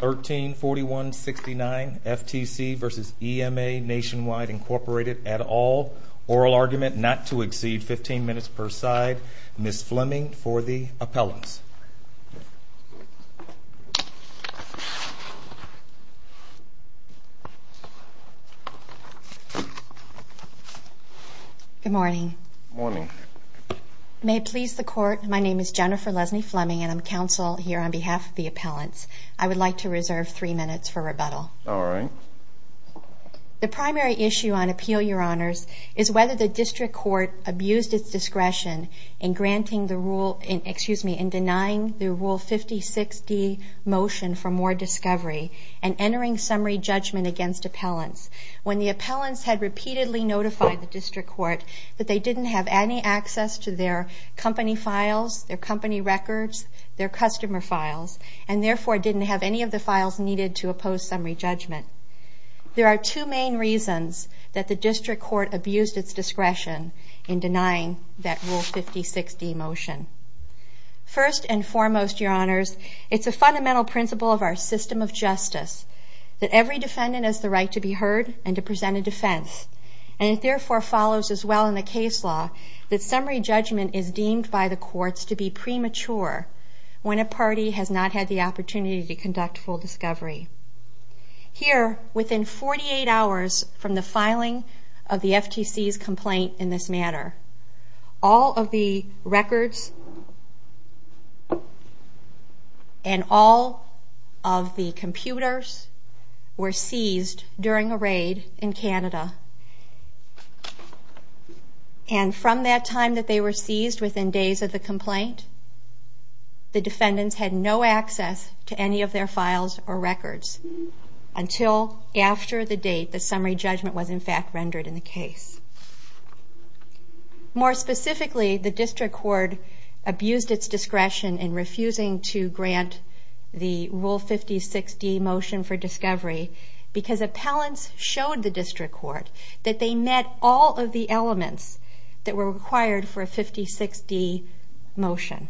134169 FTC v. EMA Nationwide Incorporated et al. Oral argument not to exceed 15 minutes per side. Ms. Fleming for the appellants. Good morning. Good morning. May it please the Court, my name is Jennifer Lesney Fleming and I'm counsel here on behalf of the appellants. I would like to reserve three minutes for rebuttal. All right. The primary issue on appeal, Your Honors, is whether the district court abused its discretion in denying the Rule 56D motion for more discovery and entering summary judgment against appellants when the appellants had repeatedly notified the district court that they didn't have any access to their company files, their company records, their customer files, and therefore didn't have any of the files needed to oppose summary judgment. There are two main reasons that the district court abused its discretion in denying that Rule 56D motion. First and foremost, Your Honors, it's a fundamental principle of our system of justice that every defendant has the right to be heard and to present a defense. And it therefore follows as well in the case law that summary judgment is deemed by the courts to be premature when a party has not had the opportunity to conduct full discovery. Here, within 48 hours from the filing of the FTC's complaint in this manner, all of the records and all of the computers were seized during a raid in Canada. And from that time that they were seized within days of the complaint, the defendants had no access to any of their files or records until after the date the summary judgment was in fact rendered in the case. More specifically, the district court abused its discretion in refusing to grant the Rule 56D motion for discovery because appellants showed the district court that they met all of the elements that were required for a 56D motion.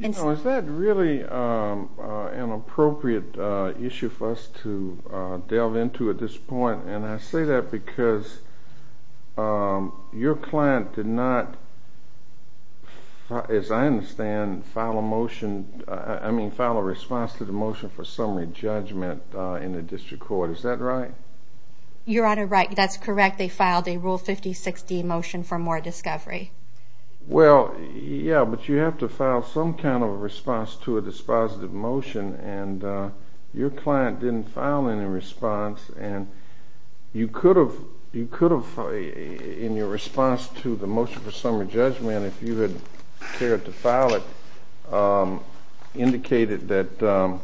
Is that really an appropriate issue for us to delve into at this point? And I say that because your client did not, as I understand, file a response to the motion for summary judgment in the district court. Is that right? Your Honor, that's correct. They filed a Rule 56D motion for more discovery. Well, yeah, but you have to file some kind of a response to a dispositive motion, and your client didn't file any response. And you could have, in your response to the motion for summary judgment, if you had cared to file it, indicated that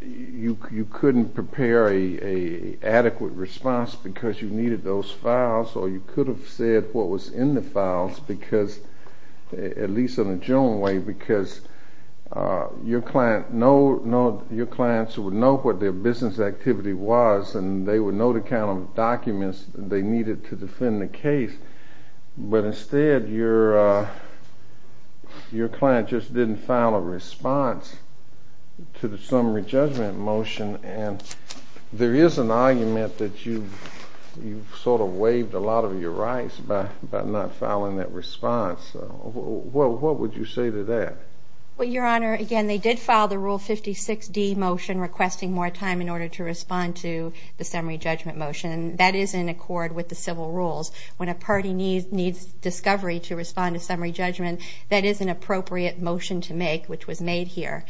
you couldn't prepare an adequate response because you needed those files, or you could have said what was in the files because, at least in a general way, because your clients would know what their business activity was, and they would know the kind of documents they needed to defend the case. But instead, your client just didn't file a response to the summary judgment motion. There is an argument that you've sort of waived a lot of your rights by not filing that response. What would you say to that? Well, Your Honor, again, they did file the Rule 56D motion requesting more time in order to respond to the summary judgment motion. That is in accord with the civil rules. When a party needs discovery to respond to summary judgment, that is an appropriate motion to make, which was made here.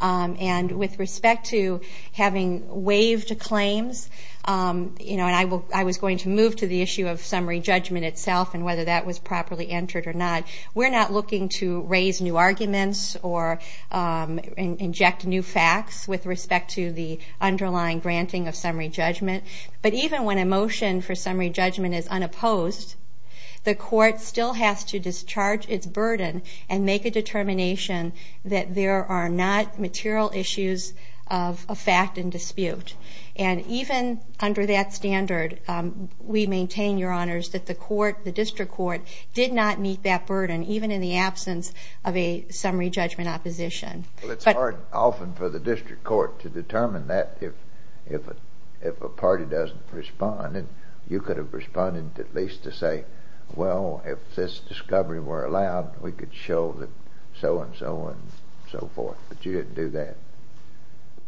And with respect to having waived claims, and I was going to move to the issue of summary judgment itself and whether that was properly entered or not, we're not looking to raise new arguments or inject new facts with respect to the underlying granting of summary judgment. But even when a motion for summary judgment is unopposed, the court still has to discharge its burden and make a determination that there are not material issues of fact and dispute. And even under that standard, we maintain, Your Honors, that the court, the district court, did not meet that burden even in the absence of a summary judgment opposition. Well, it's hard often for the district court to determine that if a party doesn't respond. And you could have responded at least to say, well, if this discovery were allowed, we could show that so and so and so forth. But you didn't do that.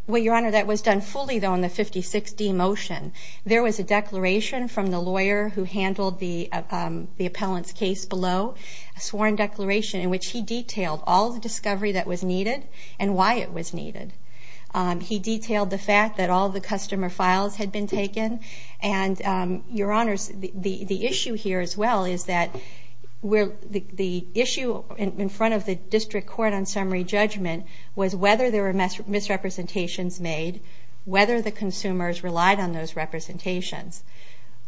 Well, Your Honor, that was done fully, though, in the 56D motion. There was a declaration from the lawyer who handled the appellant's case below, a sworn declaration in which he detailed all the discovery that was needed and why it was needed. He detailed the fact that all the customer files had been taken. And, Your Honors, the issue here as well is that the issue in front of the district court on summary judgment was whether there were misrepresentations made, whether the consumers relied on those representations.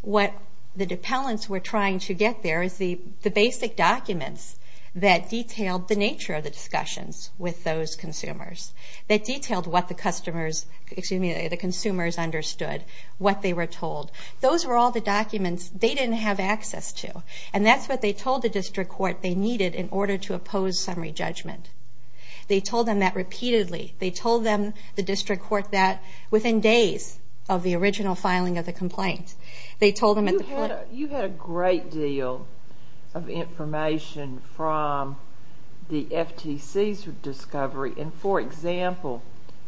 What the appellants were trying to get there is the basic documents that detailed the nature of the discussions with those consumers, that detailed what the consumers understood, what they were told. Those were all the documents they didn't have access to. And that's what they told the district court they needed in order to oppose summary judgment. They told them that repeatedly. They told them, the district court, that within days of the original filing of the complaint. They told them at the point. You had a great deal of information from the FTC's discovery. And, for example,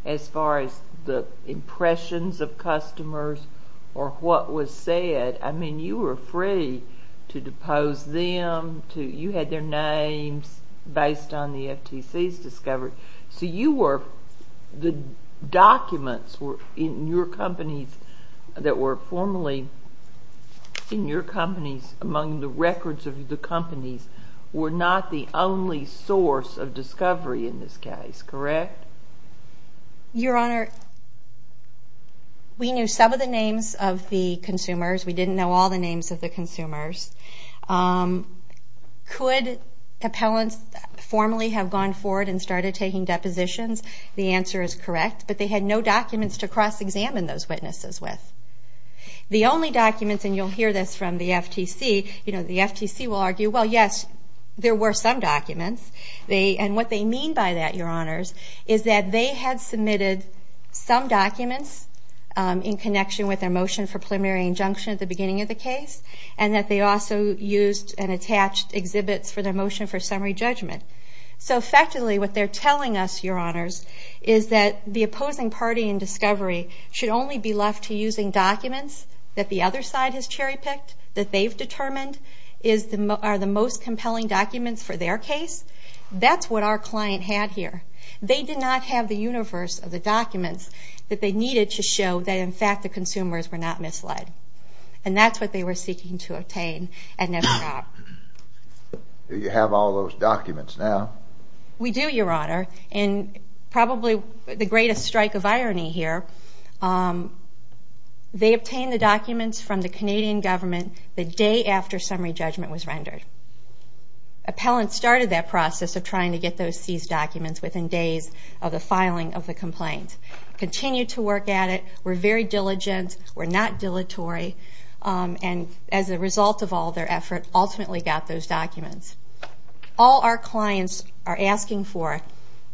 as far as the impressions of customers or what was said, I mean, you were free to depose them. You had their names based on the FTC's discovery. So you were, the documents in your companies that were formerly in your companies, among the records of the companies, were not the only source of discovery in this case, correct? Your Honor, we knew some of the names of the consumers. We didn't know all the names of the consumers. Could appellants formally have gone forward and started taking depositions? The answer is correct. But they had no documents to cross-examine those witnesses with. The only documents, and you'll hear this from the FTC, you know, the FTC will argue, well, yes, there were some documents. And what they mean by that, Your Honors, is that they had submitted some documents in connection with their motion for preliminary injunction at the beginning of the case. And that they also used and attached exhibits for their motion for summary judgment. So, effectively, what they're telling us, Your Honors, is that the opposing party in discovery should only be left to using documents that the other side has cherry-picked, that they've determined are the most compelling documents for their case. That's what our client had here. They did not have the universe of the documents that they needed to show that, in fact, the consumers were not misled. And that's what they were seeking to obtain and never got. Do you have all those documents now? We do, Your Honor. And probably the greatest strike of irony here, they obtained the documents from the Canadian government the day after summary judgment was rendered. Appellants started that process of trying to get those seized documents within days of the filing of the complaint. Continued to work at it, were very diligent, were not dilatory, and as a result of all their effort, ultimately got those documents. All our clients are asking for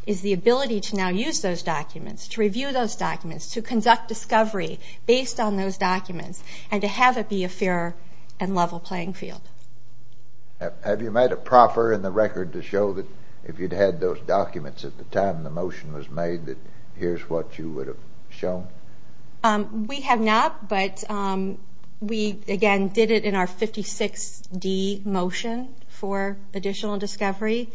is the ability to now use those documents, to review those documents, to conduct discovery based on those documents, and to have it be a fair and level playing field. Have you made a proffer in the record to show that if you'd had those documents at the time the motion was made that here's what you would have shown? We have not, but we, again, did it in our 56D motion for additional discovery,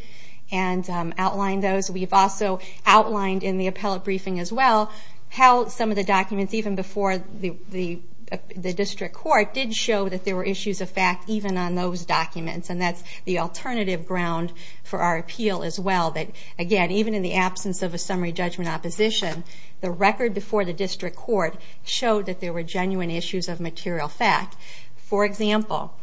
and outlined those. We've also outlined in the appellate briefing as well how some of the documents even before the district court did show that there were issues of fact even on those documents. And that's the alternative ground for our appeal as well. Again, even in the absence of a summary judgment opposition, the record before the district court showed that there were genuine issues of material fact. For example,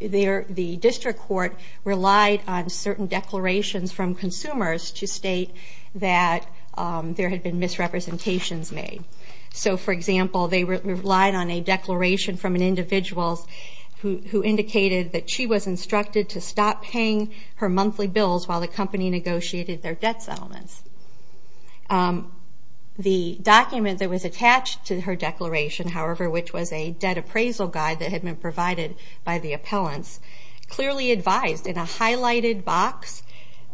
the district court relied on certain declarations from consumers to state that there had been misrepresentations made. So, for example, they relied on a declaration from an individual who indicated that she was instructed to stop paying her monthly bills while the company negotiated their debt settlements. The document that was attached to her declaration, however, which was a debt appraisal guide that had been provided by the appellants, clearly advised in a highlighted box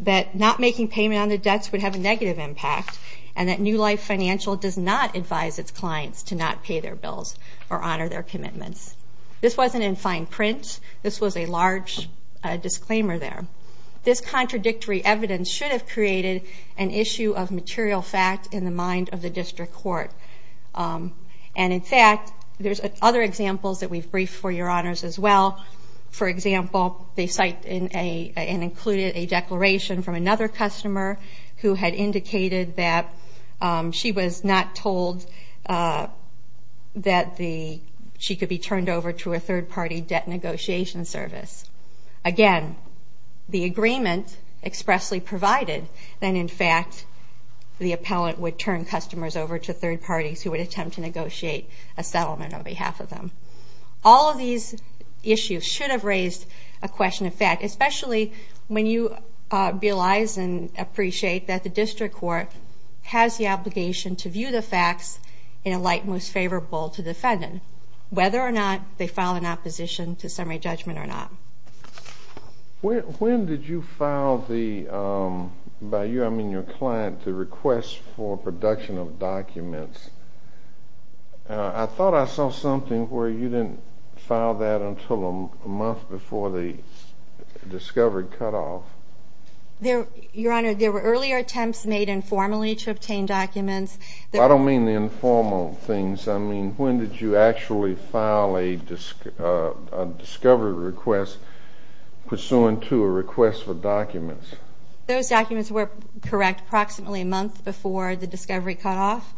that not making payment on the debts would have a negative impact, and that New Life Financial does not advise its clients to not pay their bills or honor their commitments. This wasn't in fine print. This was a large disclaimer there. This contradictory evidence should have created an issue of material fact in the mind of the district court. And, in fact, there's other examples that we've briefed for your honors as well. For example, they cite and included a declaration from another customer who had indicated that she was not told that she could be turned over to a third-party debt negotiation service. Again, the agreement expressly provided that, in fact, the appellant would turn customers over to third parties who would attempt to negotiate a settlement on behalf of them. All of these issues should have raised a question of fact, especially when you realize and appreciate that the district court has the obligation to view the facts in a light most favorable to the defendant, whether or not they file an opposition to summary judgment or not. When did you file the, by you I mean your client, the request for production of documents? I thought I saw something where you didn't file that until a month before the discovery cutoff. Your Honor, there were earlier attempts made informally to obtain documents. I don't mean the informal things. I mean when did you actually file a discovery request pursuant to a request for documents? Those documents were correct approximately a month before the discovery cutoff.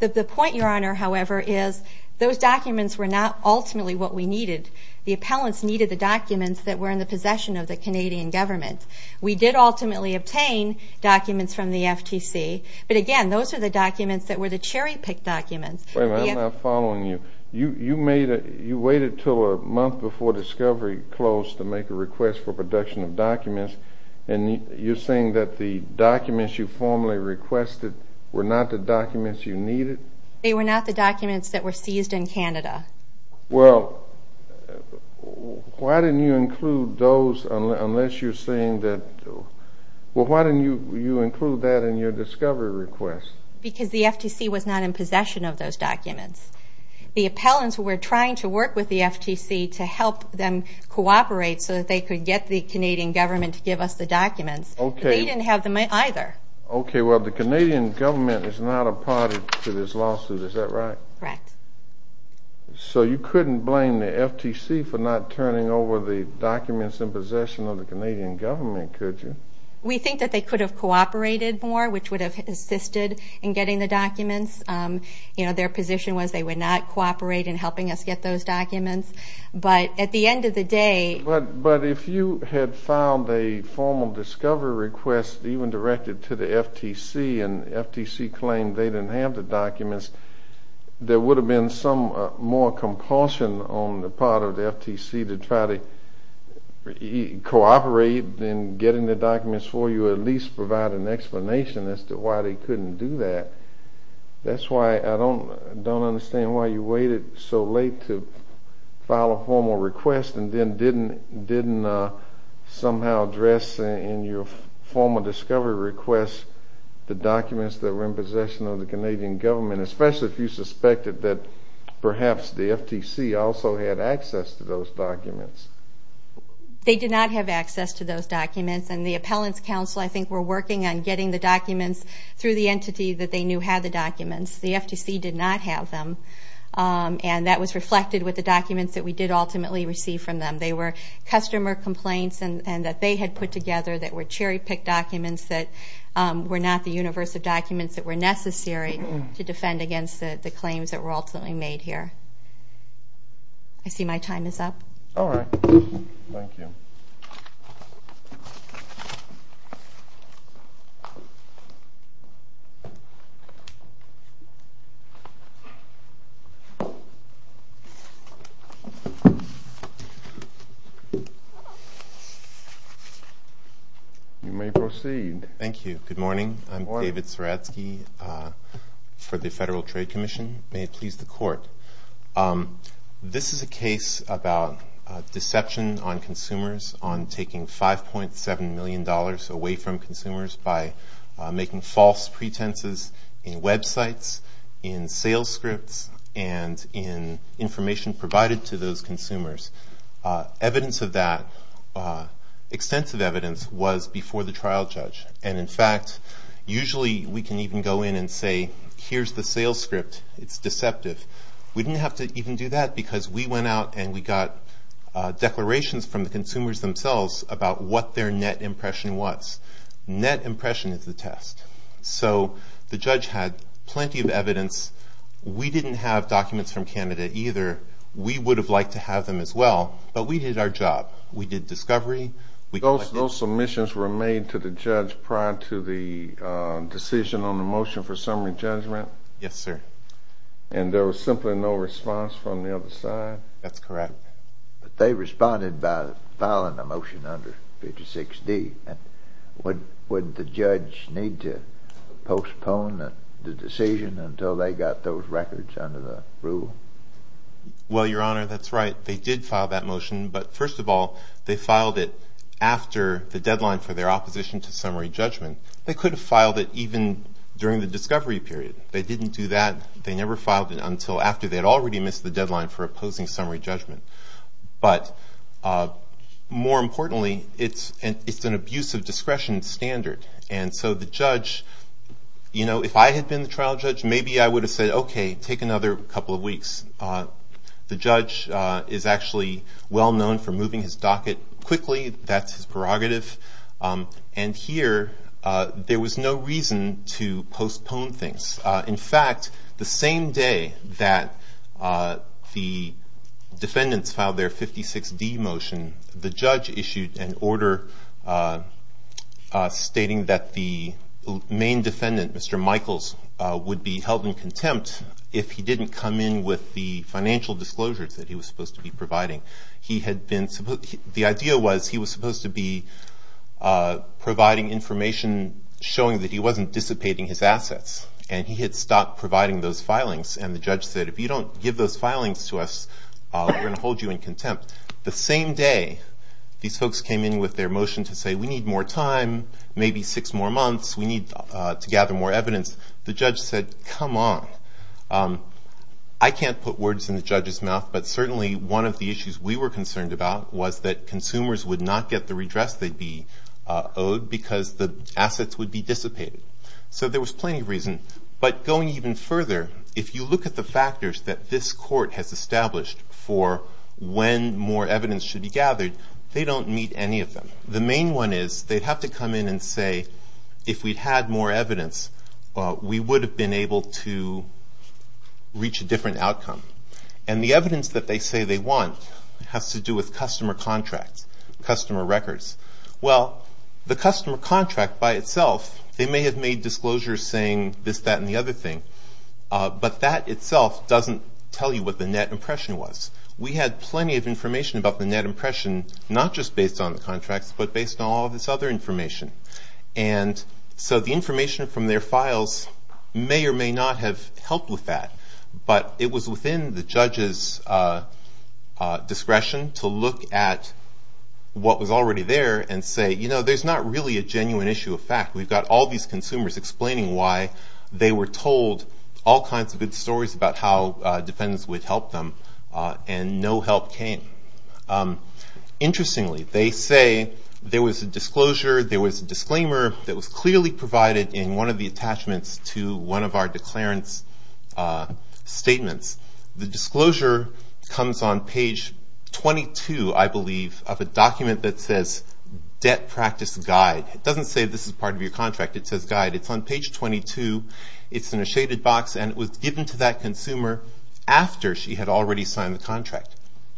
The point, Your Honor, however, is those documents were not ultimately what we needed. The appellants needed the documents that were in the possession of the Canadian government. We did ultimately obtain documents from the FTC. But again, those are the documents that were the cherry-picked documents. Wait a minute. I'm not following you. You waited until a month before discovery closed to make a request for production of documents, and you're saying that the documents you formally requested were not the documents you needed? They were not the documents that were seized in Canada. Well, why didn't you include those unless you're saying that, well, why didn't you include that in your discovery request? Because the FTC was not in possession of those documents. The appellants were trying to work with the FTC to help them cooperate so that they could get the Canadian government to give us the documents. Okay. They didn't have them either. Okay. Well, the Canadian government is not a party to this lawsuit. Is that right? Correct. So you couldn't blame the FTC for not turning over the documents in possession of the Canadian government, could you? We think that they could have cooperated more, which would have assisted in getting the documents. You know, their position was they would not cooperate in helping us get those documents. But at the end of the day – But if you had filed a formal discovery request even directed to the FTC and the FTC claimed they didn't have the documents, there would have been some more compulsion on the part of the FTC to try to cooperate in getting the documents for you or at least provide an explanation as to why they couldn't do that. That's why I don't understand why you waited so late to file a formal request and then didn't somehow address in your formal discovery request the documents that were in possession of the Canadian government, especially if you suspected that perhaps the FTC also had access to those documents. They did not have access to those documents, and the Appellants Council I think were working on getting the documents through the entity that they knew had the documents. The FTC did not have them, and that was reflected with the documents that we did ultimately receive from them. They were customer complaints that they had put together that were cherry-picked documents that were not the universe of documents that were necessary to defend against the claims that were ultimately made here. I see my time is up. All right. Thank you. Thank you. You may proceed. Thank you. Good morning. Good morning. I'm David Zeradsky for the Federal Trade Commission. May it please the Court. This is a case about deception on consumers on taking $5.7 million away from consumers by making false pretenses in websites, in sales scripts, and in information provided to those consumers. Evidence of that, extensive evidence, was before the trial judge. And in fact, usually we can even go in and say, here's the sales script. It's deceptive. We didn't have to even do that because we went out and we got declarations from the consumers themselves about what their net impression was. Net impression is the test. So the judge had plenty of evidence. We didn't have documents from Canada either. We would have liked to have them as well, but we did our job. We did discovery. Those submissions were made to the judge prior to the decision on the motion for summary judgment? Yes, sir. And there was simply no response from the other side? That's correct. But they responded by filing a motion under 56D. Wouldn't the judge need to postpone the decision until they got those records under the rule? Well, Your Honor, that's right. They did file that motion, but first of all, they filed it after the deadline for their opposition to summary judgment. They could have filed it even during the discovery period. They didn't do that. They never filed it until after they had already missed the deadline for opposing summary judgment. But more importantly, it's an abuse of discretion standard. And so the judge, you know, if I had been the trial judge, maybe I would have said, okay, take another couple of weeks. The judge is actually well known for moving his docket quickly. That's his prerogative. And here there was no reason to postpone things. In fact, the same day that the defendants filed their 56D motion, the judge issued an order stating that the main defendant, Mr. Michaels, would be held in contempt if he didn't come in with the financial disclosures that he was supposed to be providing. The idea was he was supposed to be providing information showing that he wasn't dissipating his assets. And he had stopped providing those filings. And the judge said, if you don't give those filings to us, we're going to hold you in contempt. The same day, these folks came in with their motion to say, we need more time, maybe six more months. We need to gather more evidence. The judge said, come on. I can't put words in the judge's mouth, but certainly one of the issues we were concerned about was that consumers would not get the redress they'd be owed because the assets would be dissipated. So there was plenty of reason. But going even further, if you look at the factors that this court has established for when more evidence should be gathered, they don't meet any of them. The main one is they'd have to come in and say, if we'd had more evidence, we would have been able to reach a different outcome. And the evidence that they say they want has to do with customer contracts, customer records. Well, the customer contract by itself, they may have made disclosures saying this, that, and the other thing. But that itself doesn't tell you what the net impression was. We had plenty of information about the net impression, not just based on the contracts, but based on all of this other information. And so the information from their files may or may not have helped with that. But it was within the judge's discretion to look at what was already there and say, you know, there's not really a genuine issue of fact. We've got all these consumers explaining why they were told all kinds of good stories about how defendants would help them, and no help came. Interestingly, they say there was a disclosure, there was a disclaimer that was clearly provided in one of the attachments to one of our declarance statements. The disclosure comes on page 22, I believe, of a document that says debt practice guide. It doesn't say this is part of your contract, it says guide. It's on page 22, it's in a shaded box, and it was given to that consumer after she had already signed the contract.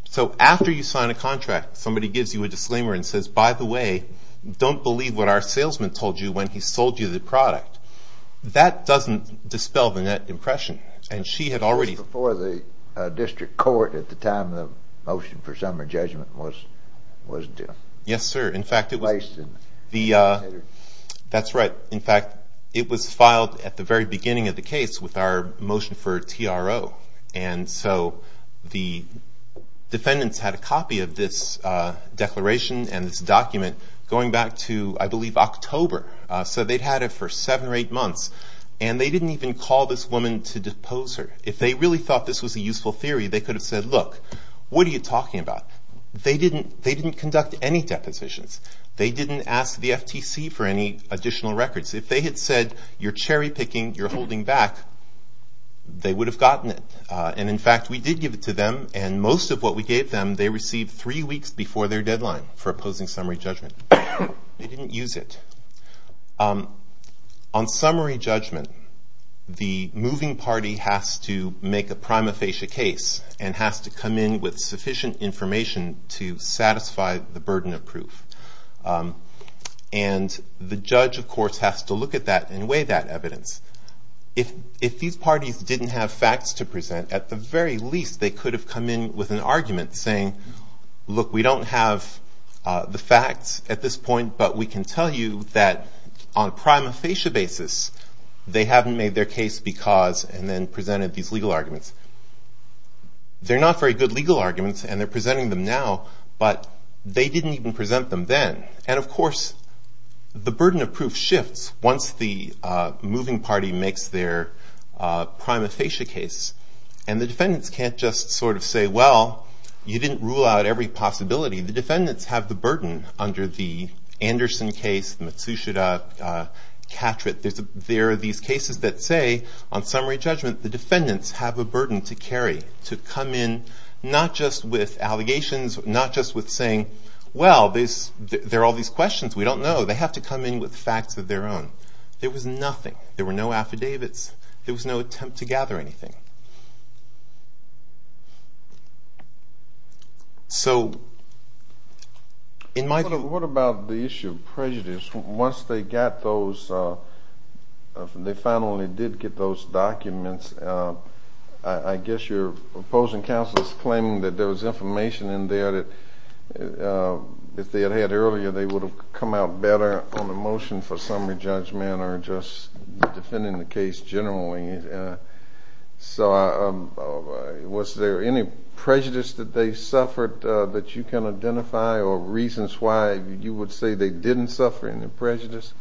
So after you sign a contract, somebody gives you a disclaimer and says, by the way, don't believe what our salesman told you when he sold you the product. That doesn't dispel the net impression. And she had already... It was before the district court at the time of the motion for summary judgment, wasn't it? Yes, sir. In fact, it was... That's right. In fact, it was filed at the very beginning of the case with our motion for a TRO. And so the defendants had a copy of this declaration and this document going back to, I believe, October. So they'd had it for seven or eight months, and they didn't even call this woman to depose her. If they really thought this was a useful theory, they could have said, look, what are you talking about? They didn't conduct any depositions. They didn't ask the FTC for any additional records. If they had said, you're cherry picking, you're holding back, they would have gotten it. And in fact, we did give it to them, and most of what we gave them, they received three weeks before their deadline for opposing summary judgment. They didn't use it. On summary judgment, the moving party has to make a prima facie case and has to come in with sufficient information to satisfy the burden of proof. And the judge, of course, has to look at that and weigh that evidence. If these parties didn't have facts to present, at the very least they could have come in with an argument saying, look, we don't have the facts at this point, but we can tell you that on a prima facie basis, they haven't made their case because, and then presented these legal arguments. They're not very good legal arguments, and they're presenting them now, but they didn't even present them then. And of course, the burden of proof shifts once the moving party makes their prima facie case. And the defendants can't just sort of say, well, you didn't rule out every possibility. The defendants have the burden under the Anderson case, Matsushita, Catret. There are these cases that say, on summary judgment, the defendants have a burden to carry, to come in not just with allegations, not just with saying, well, there are all these questions we don't know. So they have to come in with facts of their own. There was nothing. There were no affidavits. There was no attempt to gather anything. So in my view... What about the issue of prejudice? Once they got those, they finally did get those documents, I guess your opposing counsel is claiming that there was information in there that if they had had earlier, they would have come out better on the motion for summary judgment or just defending the case generally. So was there any prejudice that they suffered that you can identify or reasons why you would say they didn't suffer any prejudice?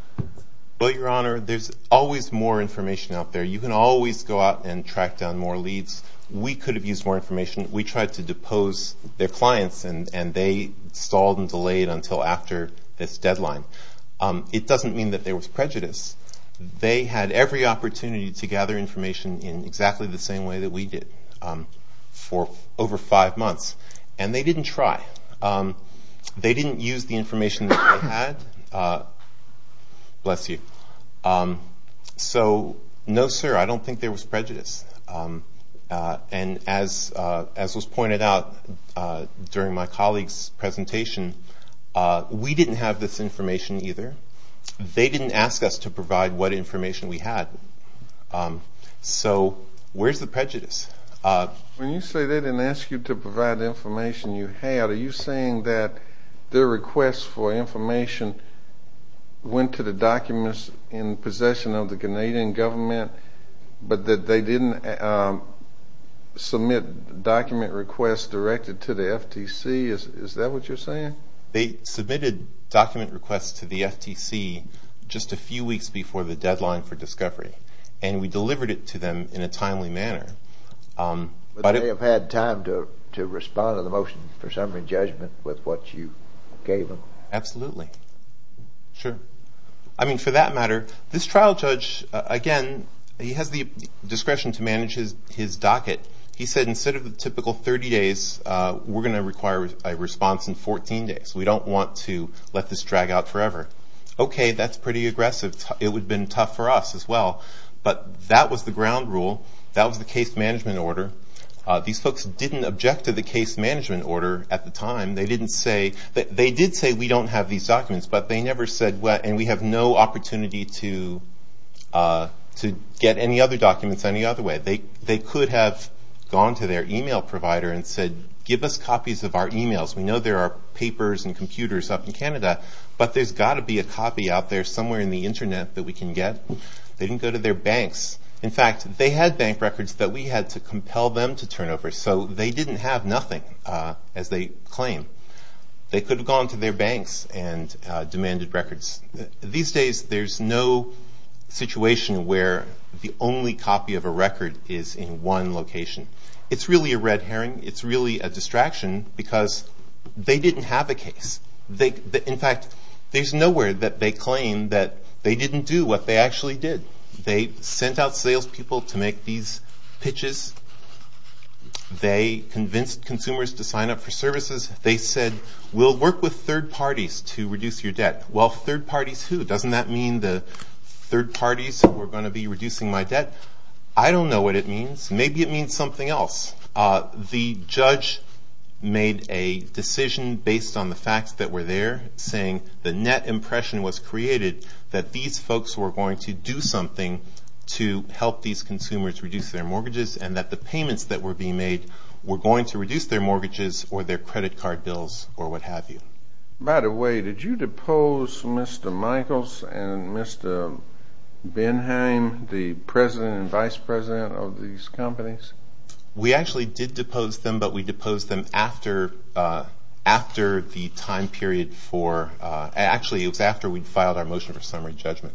Well, Your Honor, there's always more information out there. You can always go out and track down more leads. We could have used more information. We tried to depose their clients, and they stalled and delayed until after this deadline. It doesn't mean that there was prejudice. They had every opportunity to gather information in exactly the same way that we did for over five months, and they didn't try. They didn't use the information that they had. Bless you. So no, sir, I don't think there was prejudice. And as was pointed out during my colleague's presentation, we didn't have this information either. They didn't ask us to provide what information we had. So where's the prejudice? When you say they didn't ask you to provide the information you had, are you saying that their requests for information went to the documents in possession of the Canadian government but that they didn't submit document requests directed to the FTC? Is that what you're saying? They submitted document requests to the FTC just a few weeks before the deadline for discovery, and we delivered it to them in a timely manner. But they have had time to respond to the motion for summary judgment with what you gave them? Absolutely. Sure. I mean, for that matter, this trial judge, again, he has the discretion to manage his docket. He said instead of the typical 30 days, we're going to require a response in 14 days. We don't want to let this drag out forever. Okay, that's pretty aggressive. It would have been tough for us as well. But that was the ground rule. That was the case management order. These folks didn't object to the case management order at the time. They did say, we don't have these documents, but they never said, and we have no opportunity to get any other documents any other way. They could have gone to their e-mail provider and said, give us copies of our e-mails. We know there are papers and computers up in Canada, but there's got to be a copy out there somewhere in the Internet that we can get. They didn't go to their banks. In fact, they had bank records that we had to compel them to turn over, so they didn't have nothing, as they claim. They could have gone to their banks and demanded records. These days, there's no situation where the only copy of a record is in one location. It's really a red herring. It's really a distraction because they didn't have a case. In fact, there's nowhere that they claim that they didn't do what they actually did. They sent out salespeople to make these pitches. They convinced consumers to sign up for services. They said, we'll work with third parties to reduce your debt. Well, third parties who? Doesn't that mean the third parties who are going to be reducing my debt? I don't know what it means. Maybe it means something else. The judge made a decision based on the facts that were there, saying the net impression was created that these folks were going to do something to help these consumers reduce their mortgages and that the payments that were being made were going to reduce their mortgages or their credit card bills or what have you. By the way, did you depose Mr. Michaels and Mr. Benheim, the president and vice president of these companies? We actually did depose them, but we deposed them after the time period for, actually it was after we'd filed our motion for summary judgment.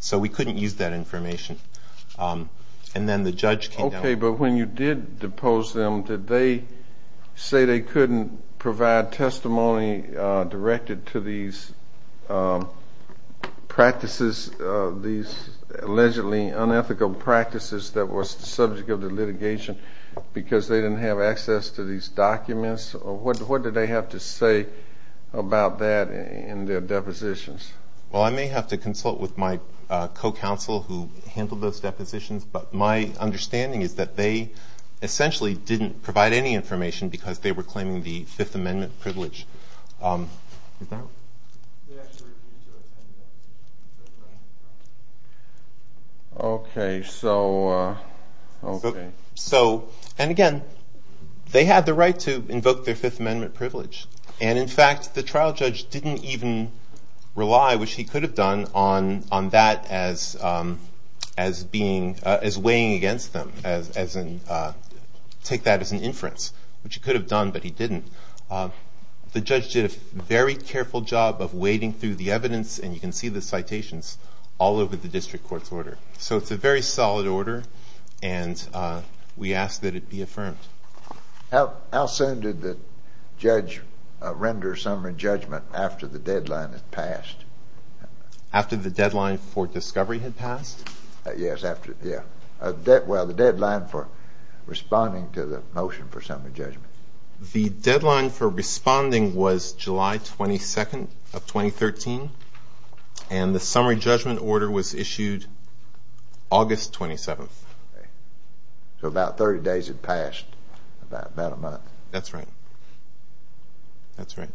So we couldn't use that information. And then the judge came down. Okay, but when you did depose them, did they say they couldn't provide testimony directed to these practices, these allegedly unethical practices that was the subject of the litigation because they didn't have access to these documents? What did they have to say about that in their depositions? Well, I may have to consult with my co-counsel who handled those depositions, but my understanding is that they essentially didn't provide any information because they were claiming the Fifth Amendment privilege. Okay, so, and again, they had the right to invoke their Fifth Amendment privilege. And, in fact, the trial judge didn't even rely, which he could have done, on that as weighing against them, as in take that as an inference, which he could have done, but he didn't. The judge did a very careful job of wading through the evidence, and you can see the citations, all over the district court's order. So it's a very solid order, and we ask that it be affirmed. How soon did the judge render summary judgment after the deadline had passed? After the deadline for discovery had passed? Yes, well, the deadline for responding to the motion for summary judgment. The deadline for responding was July 22nd of 2013, and the summary judgment order was issued August 27th. So about 30 days had passed, about a month. That's right. That's right.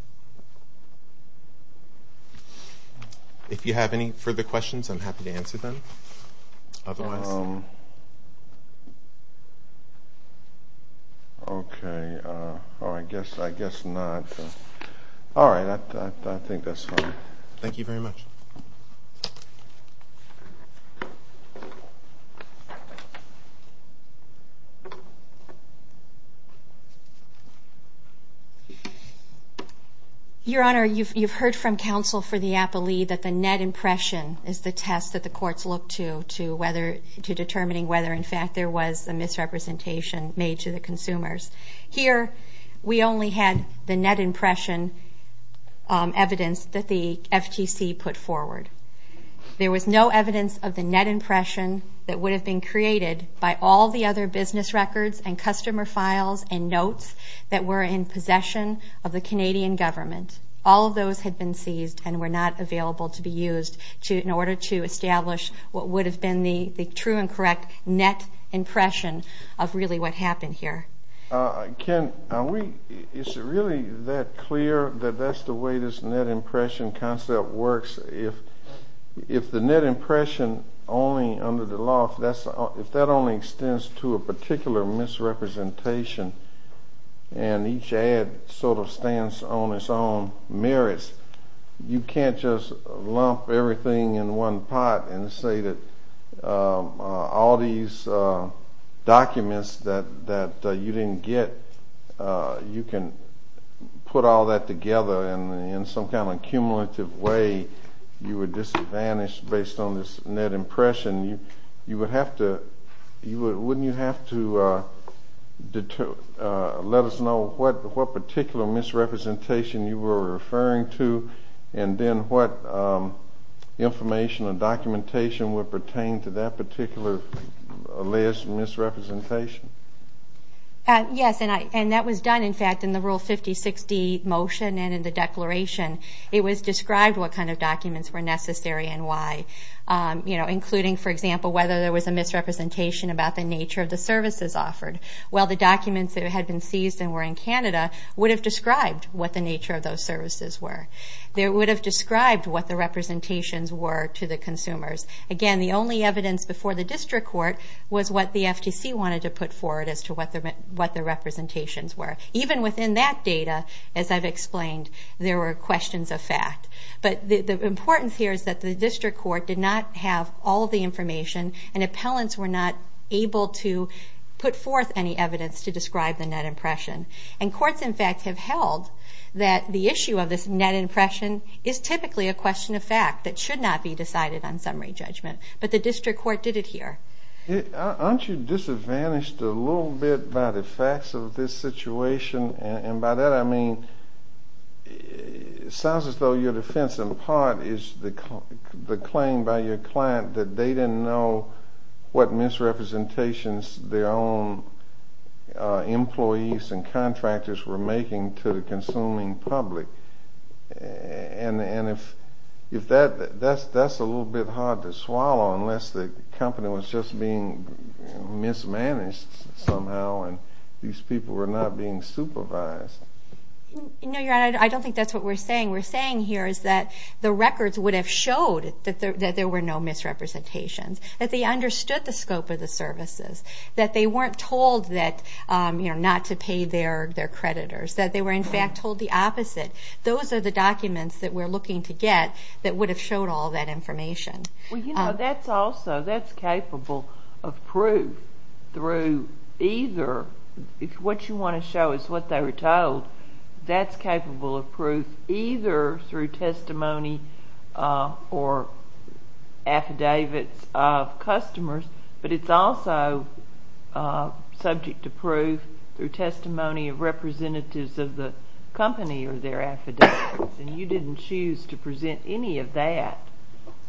If you have any further questions, I'm happy to answer them otherwise. Okay. Oh, I guess not. All right, I think that's fine. Thank you very much. Your Honor, you've heard from counsel for the appellee that the net impression is the test that the courts look to determining whether, in fact, there was a misrepresentation made to the consumers. Here, we only had the net impression evidence that the FTC put forward. There was no evidence of the net impression that would have been created by all the other business records and customer files and notes that were in possession of the Canadian government. All of those had been seized and were not available to be used in order to establish what would have been the true and correct net impression of really what happened here. Ken, is it really that clear that that's the way this net impression concept works? If the net impression only under the law, if that only extends to a particular misrepresentation and each ad sort of stands on its own merits, you can't just lump everything in one pot and say that all these documents that you didn't get, you can put all that together in some kind of cumulative way. You would disadvantage based on this net impression. Wouldn't you have to let us know what particular misrepresentation you were referring to and then what information or documentation would pertain to that particular misrepresentation? Yes, and that was done, in fact, in the Rule 5060 motion and in the declaration. It was described what kind of documents were necessary and why, including, for example, whether there was a misrepresentation about the nature of the services offered. Well, the documents that had been seized and were in Canada would have described what the nature of those services were. They would have described what the representations were to the consumers. Again, the only evidence before the district court was what the FTC wanted to put forward as to what the representations were. Even within that data, as I've explained, there were questions of fact. But the importance here is that the district court did not have all the information and appellants were not able to put forth any evidence to describe the net impression. And courts, in fact, have held that the issue of this net impression is typically a question of fact that should not be decided on summary judgment. But the district court did it here. Aren't you disadvantaged a little bit by the facts of this situation? And by that I mean it sounds as though your defense in part is the claim by your client that they didn't know what misrepresentations their own employees and contractors were making to the consuming public. And if that's a little bit hard to swallow unless the company was just being mismanaged somehow and these people were not being supervised. No, Your Honor, I don't think that's what we're saying. We're saying here is that the records would have showed that there were no misrepresentations, that they understood the scope of the services, that they weren't told not to pay their creditors, that they were, in fact, told the opposite. Those are the documents that we're looking to get that would have showed all that information. Well, you know, that's also, that's capable of proof through either, if what you want to show is what they were told, that's capable of proof either through testimony or affidavits of customers, but it's also subject to proof through testimony of representatives of the company or their affidavits. And you didn't choose to present any of that.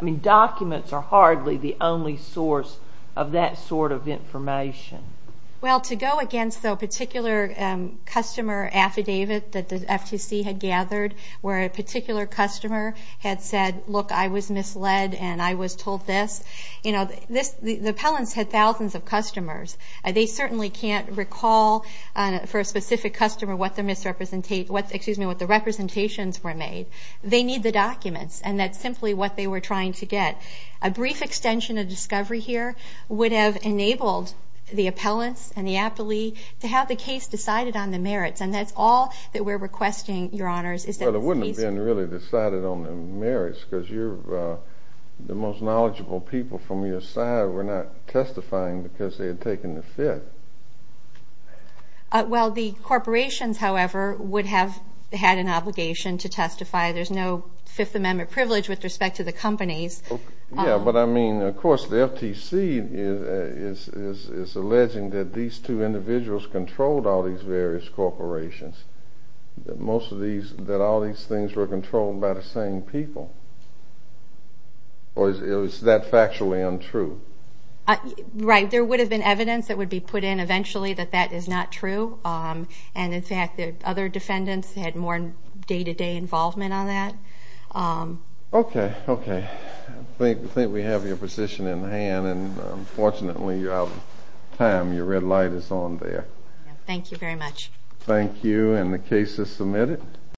I mean, documents are hardly the only source of that sort of information. Well, to go against the particular customer affidavit that the FTC had gathered where a particular customer had said, look, I was misled and I was told this, you know, the appellants had thousands of customers. They certainly can't recall for a specific customer what the representations were made. They need the documents, and that's simply what they were trying to get. A brief extension of discovery here would have enabled the appellants and the appellee to have the case decided on the merits, and that's all that we're requesting, Your Honors. Well, it wouldn't have been really decided on the merits because you're, the most knowledgeable people from your side were not testifying because they had taken the fit. Well, the corporations, however, would have had an obligation to testify. There's no Fifth Amendment privilege with respect to the companies. Yeah, but I mean, of course, the FTC is alleging that these two individuals controlled all these various corporations, that most of these, that all these things were controlled by the same people. Or is that factually untrue? Right. There would have been evidence that would be put in eventually that that is not true, and, in fact, the other defendants had more day-to-day involvement on that. Okay, okay. I think we have your position in hand, and, unfortunately, you're out of time. Your red light is on there. Thank you very much. Thank you, and the case is submitted.